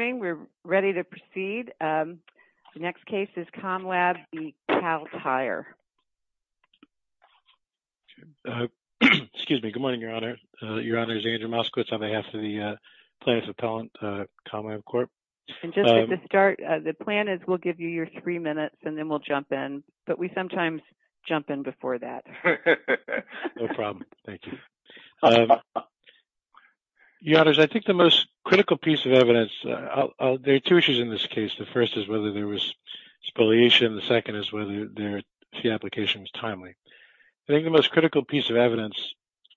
Good morning, Your Honor. Your Honor, this is Andrew Moskowitz on behalf of the Plaintiffs' Appellant, COMLAB, Corp. The plan is we'll give you your three minutes and then we'll jump in, but we sometimes jump in before that. No problem. Thank you. Your Honors, I think the most critical piece of evidence, there are two issues in this case. The first is whether there was spoliation. The second is whether the application was timely. I think the most critical piece of evidence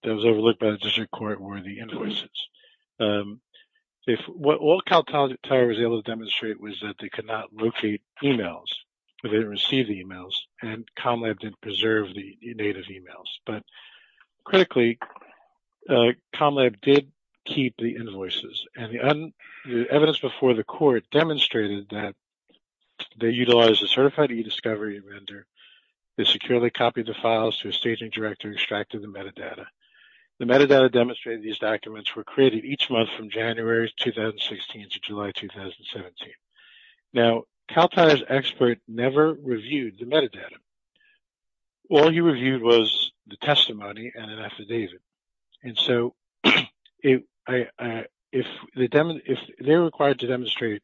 that was overlooked by the district court were the invoices. What Kal Tire was able to demonstrate was that they could not locate emails. They didn't receive the emails and COMLAB didn't preserve the date of emails. But critically, COMLAB did keep the invoices and the evidence before the court demonstrated that they utilized a certified e-discovery vendor. They securely copied the files to a staging director and extracted the metadata. The metadata demonstrated in these documents were created each month from January 2016 to July 2017. Now, Kal Tire's expert never reviewed the metadata. All he did was cast doubt. If they were required to demonstrate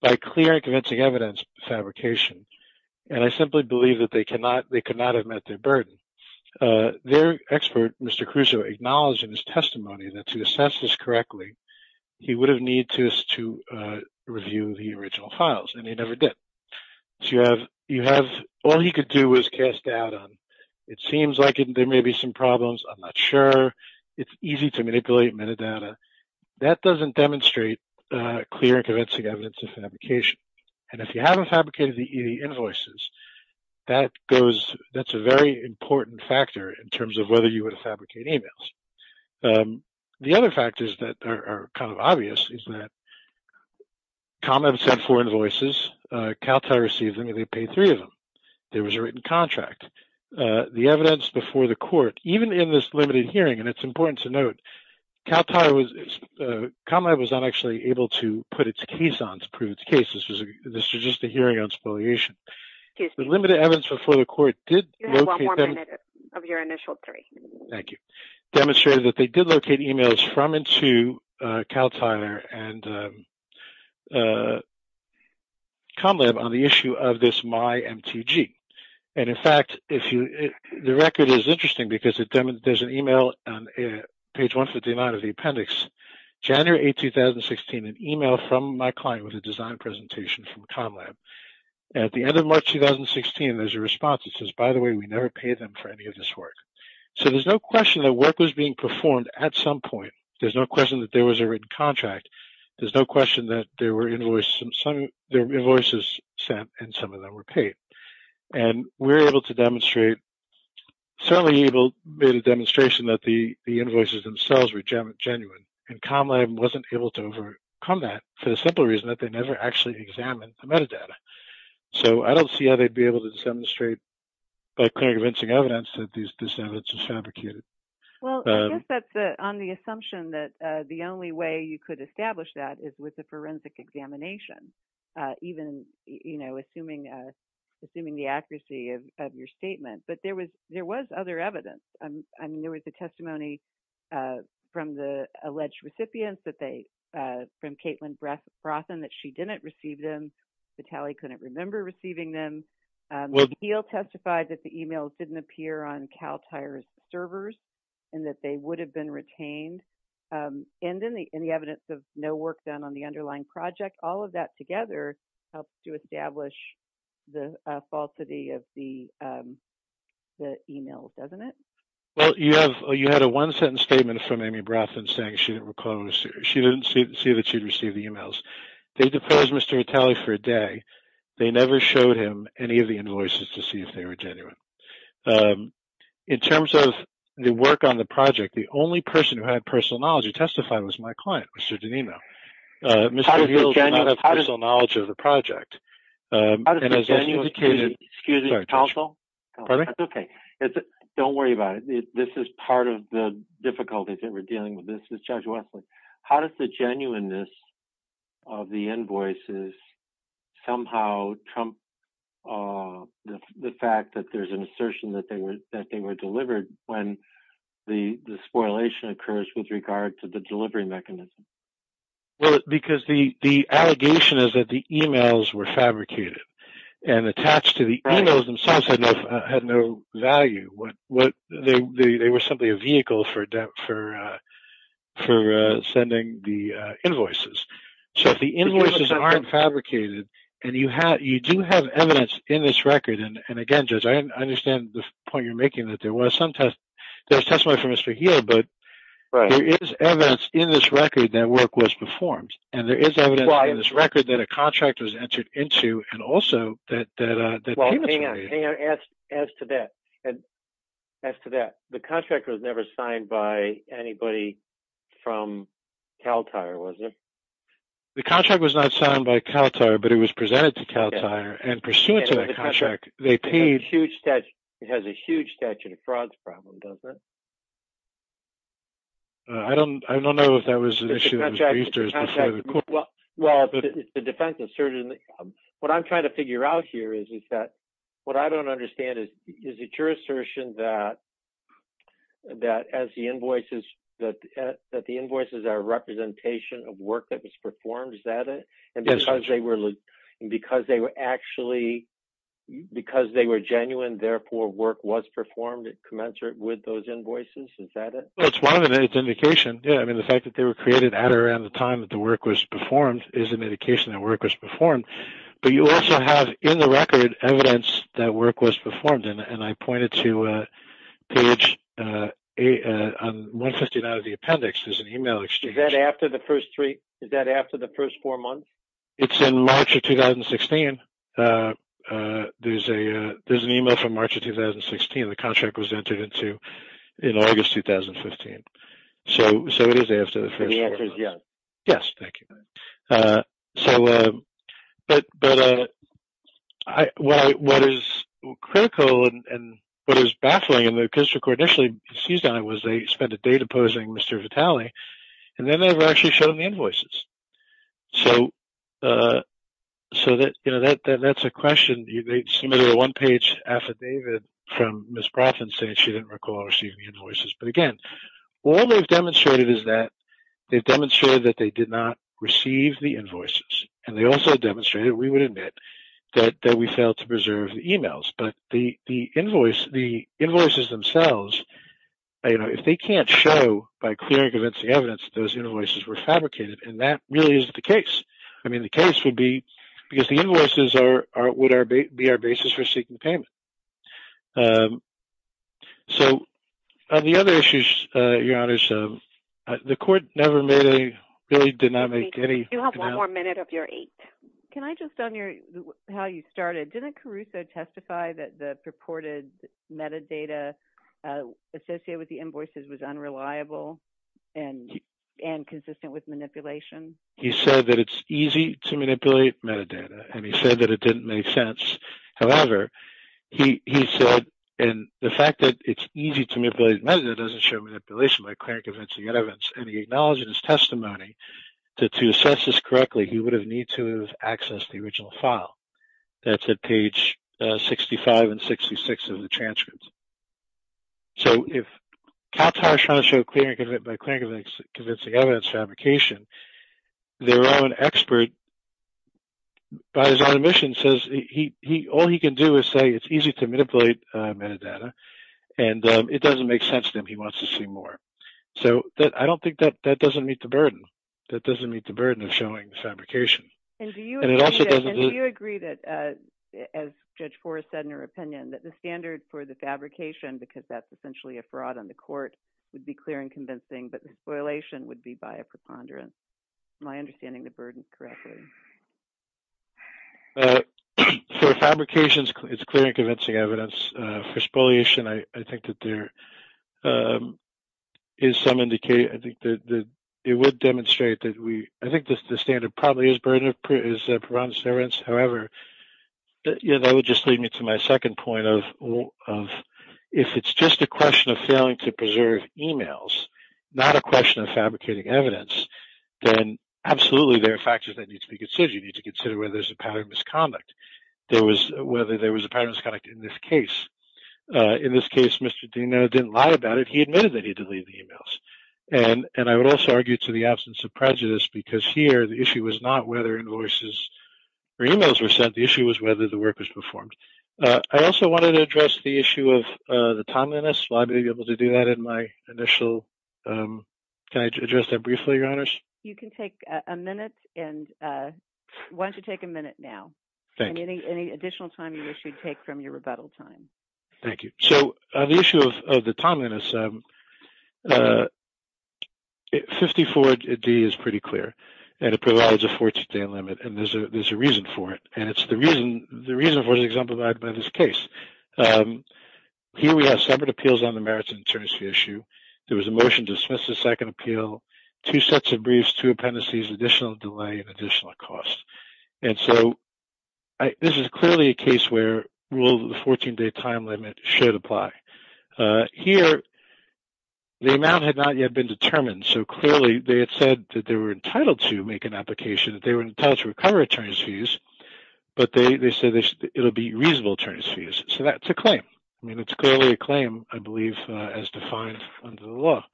by clear and convincing evidence fabrication, and I simply believe that they could not have met their burden, their expert, Mr. Caruso, acknowledged in his testimony that to assess this correctly, he would have needed to review the original files, and he never did. All he could do was cast doubt on it. It seems like there may be some problems. I'm not sure. It's easy to manipulate metadata. That doesn't demonstrate clear and convincing evidence of fabrication. And if you haven't fabricated the e-invoices, that goes – that's a very important factor in terms of whether you would fabricate emails. The other factors that are kind of obvious is that COMLAB sent four invoices. Kal Tire received them, and they paid three of them. There was a written contract. The evidence before the court, even in this limited hearing, and it's important to note, Kal Tire was – COMLAB was not actually able to put its case on to prove its case. This was just a hearing on spoliation. The limited evidence before the court did locate them – You have one more minute of your initial three. Thank you. Demonstrated that they did locate emails from and to Kal Tire and COMLAB on the issue of this MyMTG. And, in fact, if you – the record is interesting because it – there's an email on page 159 of the appendix. January 8, 2016, an email from my client with a design presentation from COMLAB. At the end of March 2016, there's a response that says, by the way, we never paid them for any of this work. So there's no question that work was being performed at some point. There's no question that there was a written contract. There's no question that there were invoices sent and some of them were paid. And we're able to demonstrate – certainly EGLE made a demonstration that the invoices themselves were genuine. And COMLAB wasn't able to overcome that for the simple reason that they never actually examined the metadata. So I don't see how they'd be able to demonstrate by clear convincing evidence that this evidence was fabricated. Well, I guess that's on the assumption that the only way you could establish that is with a forensic examination, even, you know, assuming the accuracy of your statement. But there was – there was other evidence. I mean, there was a testimony from the alleged recipients that they – from Caitlin Brothen that she didn't receive them. Vitali couldn't remember receiving them. EGLE testified that the emails didn't appear on CalTIRES servers and that they would have been retained. And then the evidence of no work done on the underlying project, all of that together helps to establish the falsity of the email, doesn't it? Well, you have – you had a one-sentence statement from Amy Brothen saying she didn't recall – she didn't see that she'd received the emails. They deposed Mr. Vitali for a false statement. They never showed him any of the invoices to see if they were genuine. In terms of the work on the project, the only person who had personal knowledge to testify was my client, Mr. DeNino. Mr. DeNino did not have personal knowledge of the project. How does the genuineness – excuse me, counsel. Pardon me? That's okay. Don't worry about it. This is part of the difficulties that we're dealing with. This is Judge Wesley. How does the genuineness of the invoices somehow trump the fact that there's an assertion that they were delivered when the spoilation occurs with regard to the delivery mechanism? Well, because the allegation is that the emails were fabricated and attached to the – the They were simply a vehicle for sending the invoices. So, if the invoices aren't fabricated and you do have evidence in this record – and again, Judge, I understand the point you're making that there was some – there's testimony from Mr. Heal, but there is evidence in this record that work was performed. And there is evidence in this record that a contract Hang on. As to that, the contract was never signed by anybody from CalTIR, was it? The contract was not signed by CalTIR, but it was presented to CalTIR. And pursuant to that contract, they paid – It has a huge statute of frauds problem, doesn't it? I don't know if that was an issue that was raised before the court. Well, the defense asserted – what I'm trying to figure out here is that what I don't understand is, is it your assertion that as the invoices – that the invoices are a representation of work that was performed? Is that it? And because they were – because they were actually – because they were genuine, therefore work was performed commensurate with those invoices? Is that it? Well, it's one of the – it's indication, yeah. I mean, the fact that they were created around the time that the work was performed is an indication that work was performed. But you also have in the record evidence that work was performed. And I pointed to page – on 159 of the appendix, there's an email exchange. Is that after the first three – is that after the first four months? It's in March of 2016. There's a – there's an email from March of 2016. The contract was entered in August 2015. So, it is after the first four months. The answer is yes. Yes, thank you. So, but I – what is critical and what is baffling in the Acoustic Court initially seized on it was they spent a day deposing Mr. Vitale, and then they never actually showed him the invoices. So, that's a question. They submitted a one-page affidavit from Ms. Vitale. I didn't recall receiving the invoices. But again, all they've demonstrated is that they've demonstrated that they did not receive the invoices. And they also demonstrated, we would admit, that we failed to preserve the emails. But the invoice – the invoices themselves, you know, if they can't show by clear and convincing evidence that those invoices were fabricated, then that really isn't the case. I mean, the case would be – because the invoices would be our basis for seeking payment. So, on the other issues, Your Honors, the Court never made a – really did not make any – You have one more minute of your eight. Can I just – on your – how you started, didn't Caruso testify that the purported metadata associated with the invoices was unreliable and consistent with manipulation? He said that it's easy to manipulate metadata. And he said that it didn't make sense. However, he said – and the fact that it's easy to manipulate metadata doesn't show manipulation by clear and convincing evidence. And he acknowledged in his testimony that to assess this correctly, he would have needed to have accessed the original file. That's at page 65 and 66 of the transcript. So, if Katar is trying to show clear and convincing evidence fabrication, their own expert, by his own admission, says he – all he can do is say it's easy to manipulate metadata. And it doesn't make sense to him. He wants to see more. So, I don't think that doesn't meet the burden. That doesn't meet the burden of showing fabrication. And do you agree that, as Judge Forrest said in her opinion, that the standard for the fabrication, because that's essentially a fraud on the Court, would be clear and convincing, but the spoliation would be by a preponderance? Am I understanding the burden correctly? For fabrication, it's clear and convincing evidence. For spoliation, I think that there is some indication – I think that it would demonstrate that we – I think the standard probably is burden of – is a preponderance. However, that would just lead me to my second point of if it's just a question of failing to preserve emails, not a question of fabricating evidence, then absolutely, there are factors that need to be considered. You need to consider whether there's a pattern of misconduct. There was – whether there was a pattern of misconduct in this case. In this case, Mr. Deno didn't lie about it. He admitted that he deleted the emails. And I would also argue to the absence of prejudice, because here, the issue was not whether invoices or emails were sent. The issue was whether the work was performed. I also wanted to address the issue of the timeliness. Will I be able to do that in my initial – can I address that briefly, Your Honors? You can take a minute and – why don't you take a minute now. Thank you. Any additional time you wish you'd take from your rebuttal time. Thank you. So, on the issue of the timeliness, 54D is pretty clear, and it provides a 14-day limit, and there's a reason for it. And it's the reason – the reason for it is exemplified by this case. Here, we have separate appeals on the merits and insurance fee issue. There was a motion to dismiss the second appeal, two sets of briefs, two appendices, additional delay, and additional cost. And so, this is clearly a case where rule of the 14-day time limit should apply. Here, the amount had not yet been determined, so clearly, they had said that they were entitled to make an application, that they were entitled to recover attorneys' fees, but they said it'll be reasonable attorneys' fees. So, that's a claim. I mean, it's clearly a claim, I believe, as defined under the law.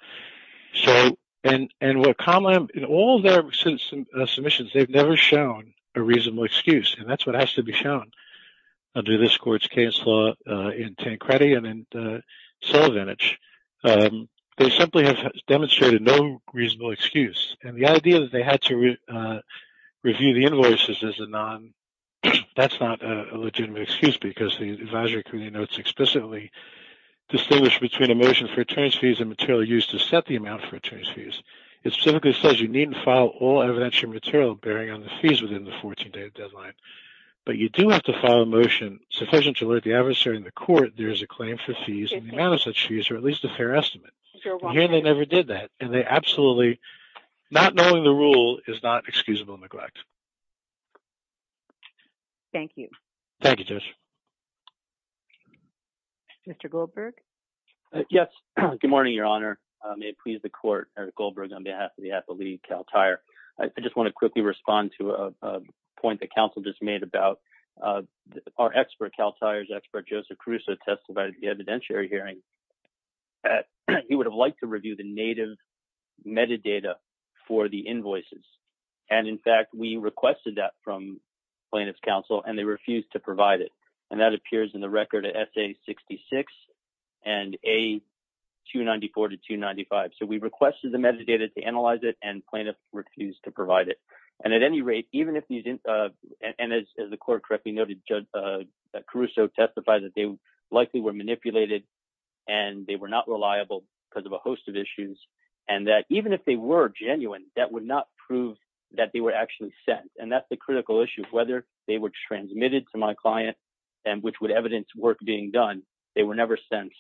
So – and what Comlam – in all their submissions, they've never shown a reasonable excuse, and that's what has to be shown under this court's case law in Tancredi and in Sullivanage. They simply have demonstrated no reasonable excuse. And the idea that they had to review the invoices as a non – that's not a legitimate excuse, because the advisory committee notes explicitly distinguish between a motion for attorneys' fees and material used to set the amount for attorneys' fees. It specifically says you need to file all evidentiary material bearing on the fees within the 14-day deadline. But you do have motion sufficient to alert the adversary in the court there is a claim for fees, and the amount of such fees are at least a fair estimate. Here, they never did that, and they absolutely – not knowing the rule is not excusable neglect. Thank you. Thank you, Judge. Mr. Goldberg? Yes. Good morning, Your Honor. May it please the court, Eric Goldberg, on behalf of the appellee, Cal Tire. I just want to quickly respond to a point that counsel just made about our expert, Cal Tire's expert, Joseph Caruso, testified at the evidentiary hearing that he would have liked to review the native metadata for the invoices. And, in fact, we requested that from plaintiff's counsel, and they refused to provide it. And that appears in the record at S.A. 66 and A. 294 to 295. So, we requested the metadata to analyze it, and plaintiffs refused to provide it. And at any rate, even if these – and as the court correctly noted, Caruso testified that they likely were manipulated and they were not reliable because of a host of issues, and that even if they were genuine, that would not prove that they were actually sent. And that's the critical issue, whether they were transmitted to my client and which would evidence work being done, they were never sent.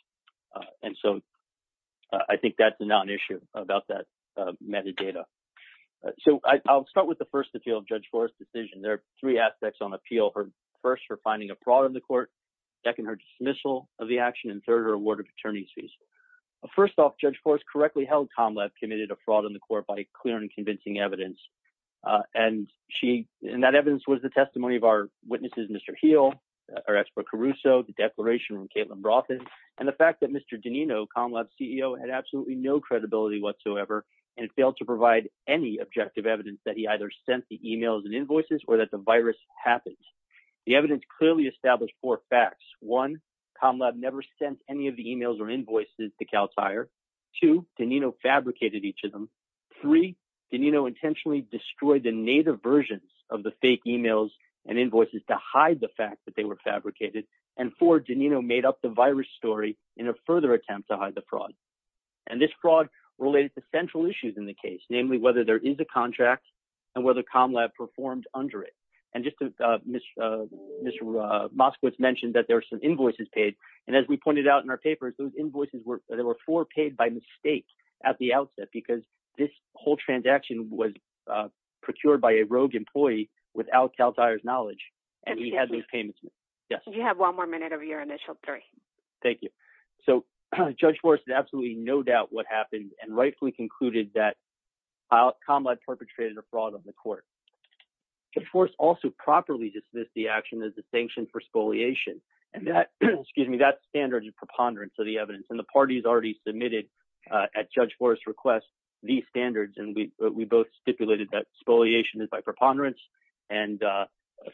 And so, I think that's a non-issue about that metadata. So, I'll start with the first appeal of Judge Forrest's decision. There are three aspects on appeal. First, for finding a fraud in the court. Second, her dismissal of the action. And third, her award of attorney's fees. First off, Judge Forrest correctly held Comlab committed a fraud in the court by clear and convincing evidence. And she – and that evidence was the testimony of our witnesses, Mr. Heal, our expert, Caruso, the declaration from Caitlin Broughton, and the fact that Mr. Donino, Comlab's CEO, had absolutely no credibility whatsoever and failed to provide any objective evidence that he either sent the emails and invoices or that the virus happened. The evidence clearly established four facts. One, Comlab never sent any of the emails or invoices to Cal Tire. Two, Donino fabricated each of them. Three, Donino intentionally destroyed the native versions of the fake emails and invoices to hide the fact that they were fabricated. And four, Donino made up the virus story in a further attempt to hide the fraud. And this fraud related to central issues in the case, namely whether there is a contract and whether Comlab performed under it. And just to – Ms. Moskowitz mentioned that there were some invoices paid. And as we pointed out in our papers, those invoices were – there were four paid by mistake at the outset because this whole transaction was procured by a rogue employee without Cal Tire's knowledge and he had those payments made. Yes. You have one more minute of your initial three. Thank you. So Judge Forrest had absolutely no doubt what happened and rightfully concluded that Comlab perpetrated a fraud on the court. Judge Forrest also properly dismissed the action as a sanction for spoliation. And that – excuse me – that standard is preponderance of the evidence. And the parties already submitted at Judge Forrest's request these standards and we both stipulated that spoliation is by preponderance and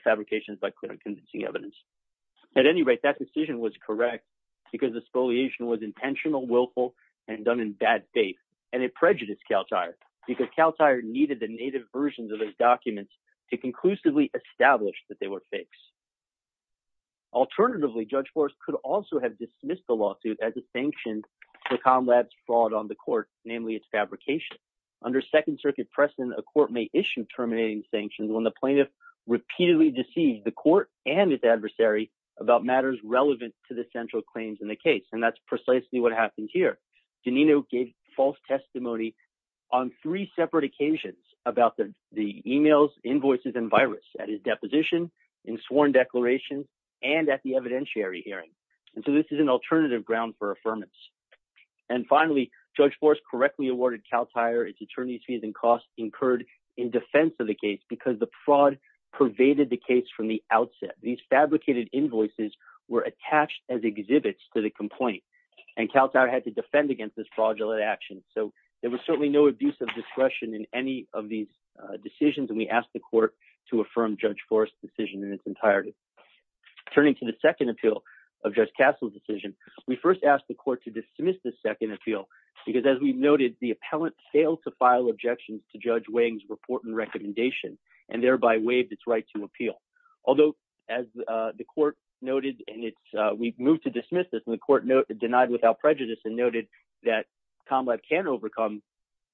fabrication is by clear and convincing evidence. At any rate, that decision was correct because the spoliation was intentional, willful, and done in bad faith. And it prejudiced Cal Tire because Cal Tire needed the native versions of those documents to conclusively establish that they were fakes. Alternatively, Judge Forrest could also have dismissed the lawsuit as a sanction for Comlab's fraud on the court, namely its fabrication. Under Second Circuit precedent, a court may issue terminating sanctions when the plaintiff repeatedly deceived the court and its adversary about matters relevant to the central claims in the case. And that's precisely what happened here. Giannino gave false testimony on three separate occasions about the emails, invoices, and virus at his deposition, in sworn declaration, and at the evidentiary hearing. And so this is an alternative ground for affirmance. And finally, Judge Forrest correctly awarded Cal Tire its attorneys fees and costs incurred in defense of the case because the fraud pervaded the case from the outset. These fabricated invoices were attached as exhibits to the complaint, and Cal Tire had to defend against this fraudulent action. So there was certainly no abuse of discretion in any of these decisions, and we asked the court to affirm Judge Forrest's decision in its entirety. Turning to the second appeal of Judge Castle's decision, we first asked the court to dismiss the second appeal, because as we noted, the appellant failed to file objections to Judge Wang's report and recommendation, and thereby waived its right to appeal. Although, as the court noted, and we've moved to dismiss this, and the court denied without prejudice and noted that ComLab can overcome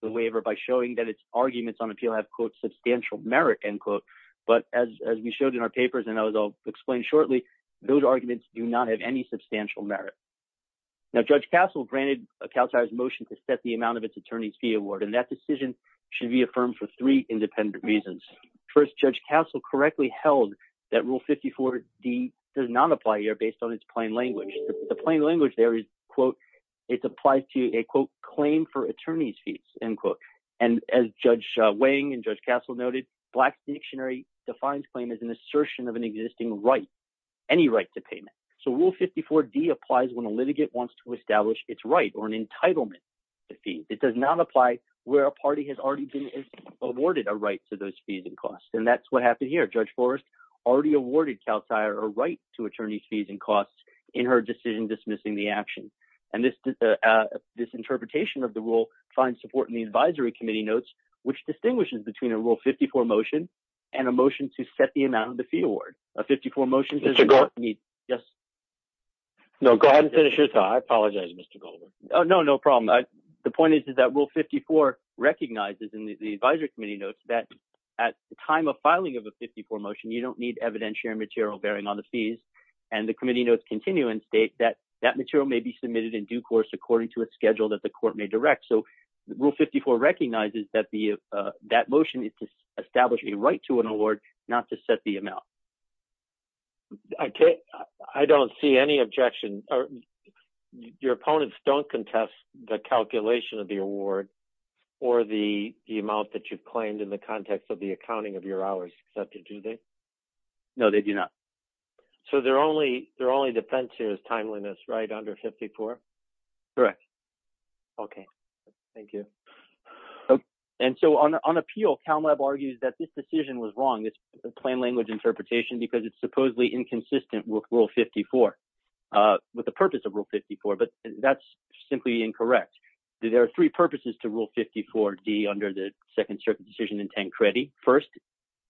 the waiver by showing that its arguments on appeal have, quote, substantial merit, end quote. But as we showed in our papers, and as I'll explain shortly, those arguments do have any substantial merit. Now, Judge Castle granted Cal Tire's motion to set the amount of its attorney's fee award, and that decision should be affirmed for three independent reasons. First, Judge Castle correctly held that Rule 54-D does not apply here based on its plain language. The plain language there is, quote, it applies to a, quote, claim for attorney's fees, end quote. And as Judge Wang and Judge Castle noted, Black's Dictionary defines claim as an assertion of an 54-D applies when a litigant wants to establish its right or an entitlement to fees. It does not apply where a party has already been awarded a right to those fees and costs. And that's what happened here. Judge Forrest already awarded Cal Tire a right to attorney's fees and costs in her decision dismissing the action. And this interpretation of the rule finds support in the advisory committee notes, which distinguishes between a Rule 54 motion and a motion to set amount of the fee award. A 54 motion says- Mr. Goldman. Yes. No, go ahead and finish your thought. I apologize, Mr. Goldman. Oh, no, no problem. The point is that Rule 54 recognizes in the advisory committee notes that at the time of filing of a 54 motion, you don't need evidentiary material bearing on the fees. And the committee notes continue and state that that material may be submitted in due course according to a schedule that the court may direct. So Rule 54 recognizes that that motion is to set the amount. I don't see any objection. Your opponents don't contest the calculation of the award or the amount that you've claimed in the context of the accounting of your hours accepted, do they? No, they do not. So their only defense here is timeliness, right, under 54? Correct. Okay. Thank you. And so on appeal, CalMeb argues that this decision was wrong, this plain language interpretation, because it's supposedly inconsistent with Rule 54, with the purpose of Rule 54. But that's simply incorrect. There are three purposes to Rule 54D under the Second Circuit Decision in 10 Credit. First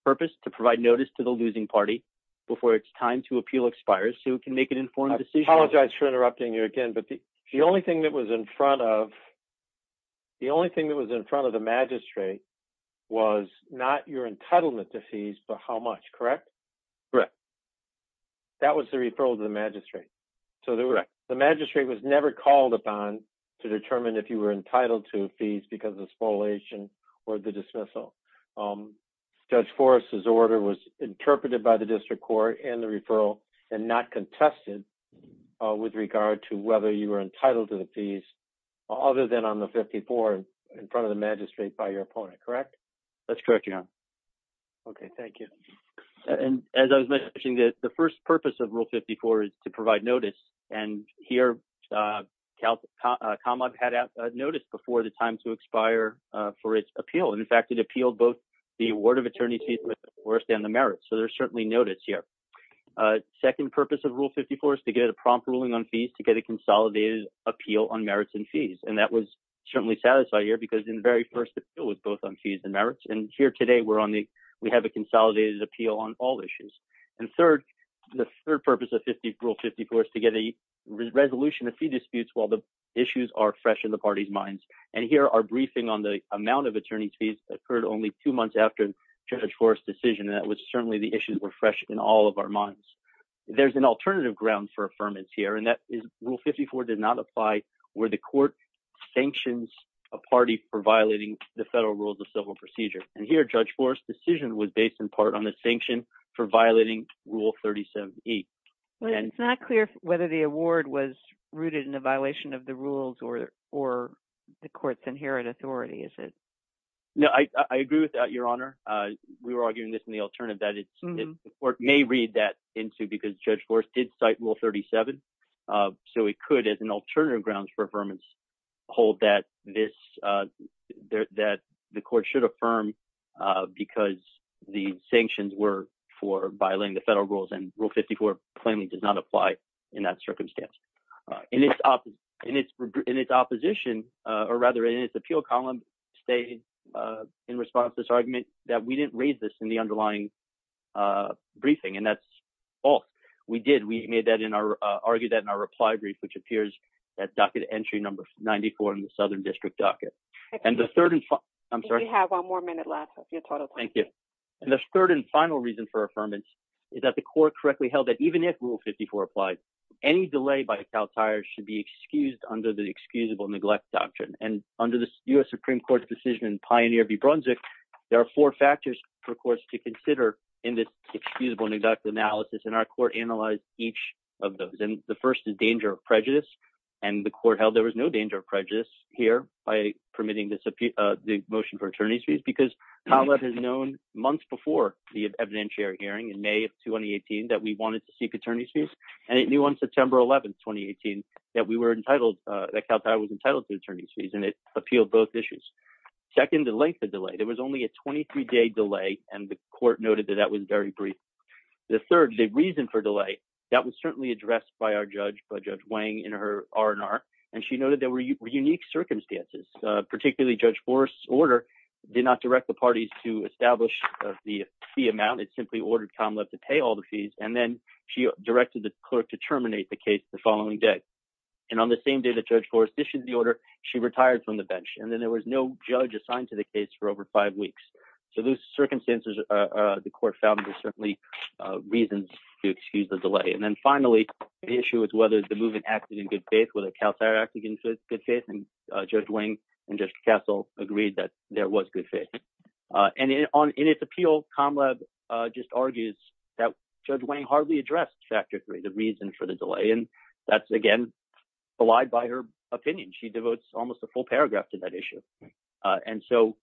purpose, to provide notice to the losing party before it's time to appeal expires so it can make an informed decision. I apologize for interrupting you again, but the only thing that was in front of, the only thing that was in front of the magistrate was not your entitlement to fees, but how much, correct? Correct. That was the referral to the magistrate. So the magistrate was never called upon to determine if you were entitled to fees because of spoliation or the dismissal. Judge Forrest's order was interpreted by the district court and the referral and not contested with regard to whether you were entitled to the fees, other than on the 54 in front of the magistrate by your opponent, correct? That's correct, Your Honor. Okay. Thank you. And as I was mentioning, the first purpose of Rule 54 is to provide notice. And here, CalMeb had a notice before the time to expire for its appeal. And in fact, it appealed both the award of attorney fees with Forrest and the merits. So there's certainly notice here. Second purpose of Rule 54 is to get a prompt ruling on fees to get a consolidated appeal on merits and fees. And that was certainly satisfied here because in the very first appeal was both on fees and merits. And here today, we're on the, we have a consolidated appeal on all issues. And third, the third purpose of Rule 54 is to get a resolution of fee disputes while the issues are fresh in the party's minds. And here, our briefing on the amount of attorney fees occurred only two months after Judge Forrest's decision. And that was certainly the issues were fresh in all of our minds. There's an alternative ground for affirmance here, and that is Rule 54 did not apply where the court sanctions a party for violating the federal rules of civil procedure. And here, Judge Forrest's decision was based in part on the sanction for violating Rule 37E. But it's not clear whether the award was rooted in a violation of the rules or the court's inherent authority, is it? No, I agree with that, Your Honor. We were arguing this in the alternative that the court may read that into because Judge Forrest did cite Rule 37. So it could, as an alternative grounds for affirmance, hold that the court should affirm because the sanctions were for violating the federal rules and Rule 54 plainly does not apply in that circumstance. In its opposition, or rather in its appeal column, stayed in response to this argument that we didn't raise this in the underlying briefing. And that's false. We did. We argued that in our reply brief, which appears at docket entry number 94 in the Southern District docket. And the third and final reason for affirmance is that the court correctly held that even if Rule 54 applies, any delay by Cal Tire should be excused under the excusable neglect doctrine. And under the U.S. Supreme Court's Pioneer v. Brunswick, there are four factors for courts to consider in this excusable neglect analysis. And our court analyzed each of those. And the first is danger of prejudice. And the court held there was no danger of prejudice here by permitting the motion for attorney's fees, because Collette has known months before the evidentiary hearing in May of 2018 that we wanted to seek attorney's fees. And it knew on September 11th, 2018, that Cal Tire was entitled to attorney's fees, and it appealed both issues. Second, the length of delay. There was only a 23 day delay, and the court noted that that was very brief. The third, the reason for delay, that was certainly addressed by our judge, by Judge Wang, in her R&R. And she noted there were unique circumstances, particularly Judge Forrest's order did not direct the parties to establish the fee amount. It simply ordered Calum Leff to pay all the fees. And then she directed the clerk to terminate the case the following day. And on the same day that Judge Forrest issued the order, she retired from the bench. And then there was no judge assigned to the case for over five weeks. So those circumstances, the court found there's certainly reasons to excuse the delay. And then finally, the issue is whether the movement acted in good faith, whether Cal Tire acted in good faith. And Judge Wang and Judge Cassel agreed that there was good faith. And in its appeal, Calum Leff just argues that Judge Wang hardly addressed factor three, the reason for the delay. And that's, again, allied by her opinion. She devotes almost a full paragraph to that issue. And so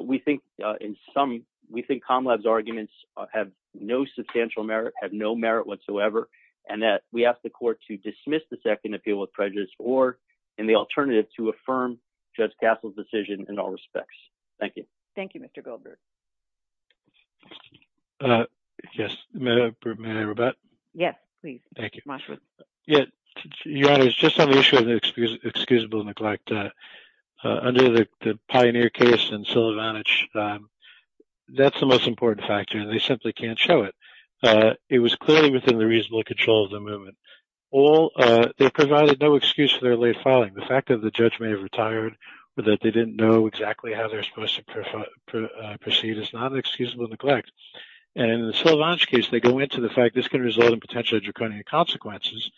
we think in some, we think Calum Leff's arguments have no substantial merit, have no merit whatsoever, and that we ask the court to dismiss the second appeal with prejudice or in the alternative to affirm Judge Cassel's decision in all respects. Thank you. Thank you, Mr. Goldberg. Yes. May I rebut? Yes, please. Thank you. Your Honor, it's just on the issue of excusable neglect. Under the Pioneer case and Sylvanich, that's the most important factor, and they simply can't show it. It was clearly within the reasonable control of the movement. They provided no excuse for their late filing. The fact that the judge may have retired or that they didn't know exactly how they're supposed to proceed is not an excusable neglect. And in the Sylvanich case, they go into the fact this can result in potentially draconian consequences.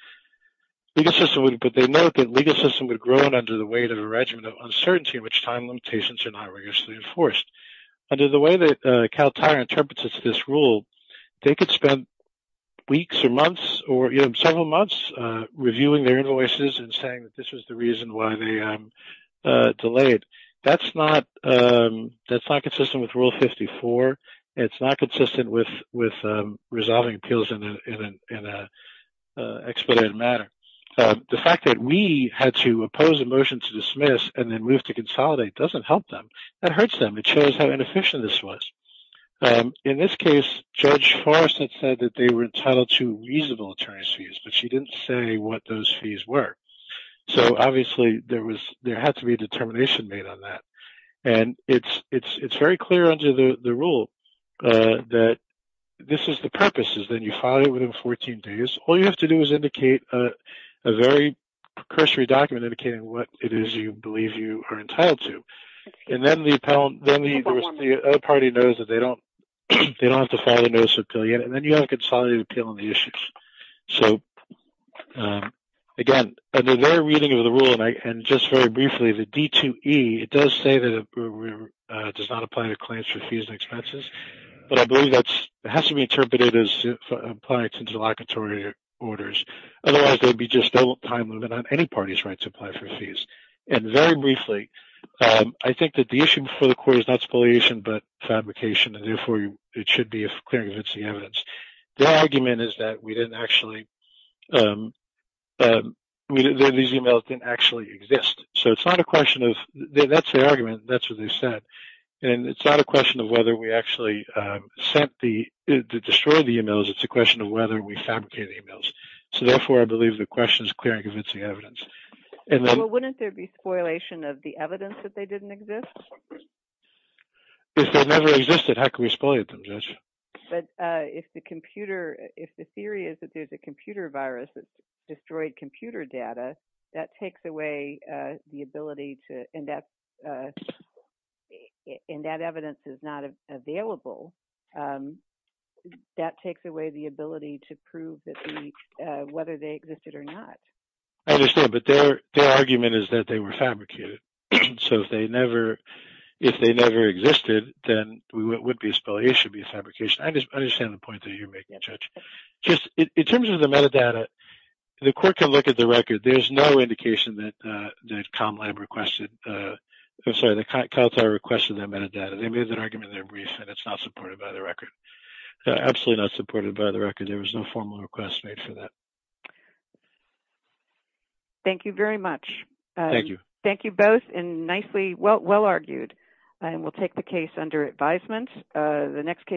But they note that legal system would have grown under the weight of a regimen of uncertainty in which time limitations are not rigorously enforced. Under the way that Cal Tire interprets this rule, they could spend weeks or months or several months reviewing their invoices and saying that this was the reason why they that's not consistent with Rule 54. It's not consistent with resolving appeals in an expedited manner. The fact that we had to oppose a motion to dismiss and then move to consolidate doesn't help them. That hurts them. It shows how inefficient this was. In this case, Judge Forrest had said that they were entitled to reasonable attorney's fees, but she didn't say what those fees were. So obviously, there had to be a determination made on that. And it's very clear under the rule that this is the purpose is that you file it within 14 days. All you have to do is indicate a very precursory document indicating what it is you believe you are entitled to. And then the other party knows that they don't have to file the notice of appeal yet. And then you have a consolidated appeal on the issues. So again, under their reading of the and just very briefly, the D2E, it does say that it does not apply to clients for fees and expenses. But I believe that has to be interpreted as applying to delocatory orders. Otherwise, there'd be just no time limit on any party's right to apply for fees. And very briefly, I think that the issue before the court is not spoliation, but fabrication. And therefore, it should be a clear and convincing evidence. The argument is that we didn't actually um, these emails didn't actually exist. So it's not a question of that's the argument. That's what they said. And it's not a question of whether we actually sent the destroy the emails. It's a question of whether we fabricate emails. So therefore, I believe the question is clear and convincing evidence. And then wouldn't there be spoliation of the evidence that they didn't exist? If they never existed, how can we spoliate them, Judge? But if the computer if the theory is that there's a computer virus that destroyed computer data, that takes away the ability to index. And that evidence is not available. That takes away the ability to prove that whether they existed or not. I understand. But their argument is that they were fabricated. So if they never, if they never existed, then we would be a spoliation be fabrication. I just In terms of the metadata, the court can look at the record. There's no indication that that Comlab requested. I'm sorry, the Caltar requested that metadata. They made that argument there brief and it's not supported by the record. Absolutely not supported by the record. There was no formal request made for that. Thank you very much. Thank you. Thank you both and nicely well argued. And we'll take the case under advisement. The next case.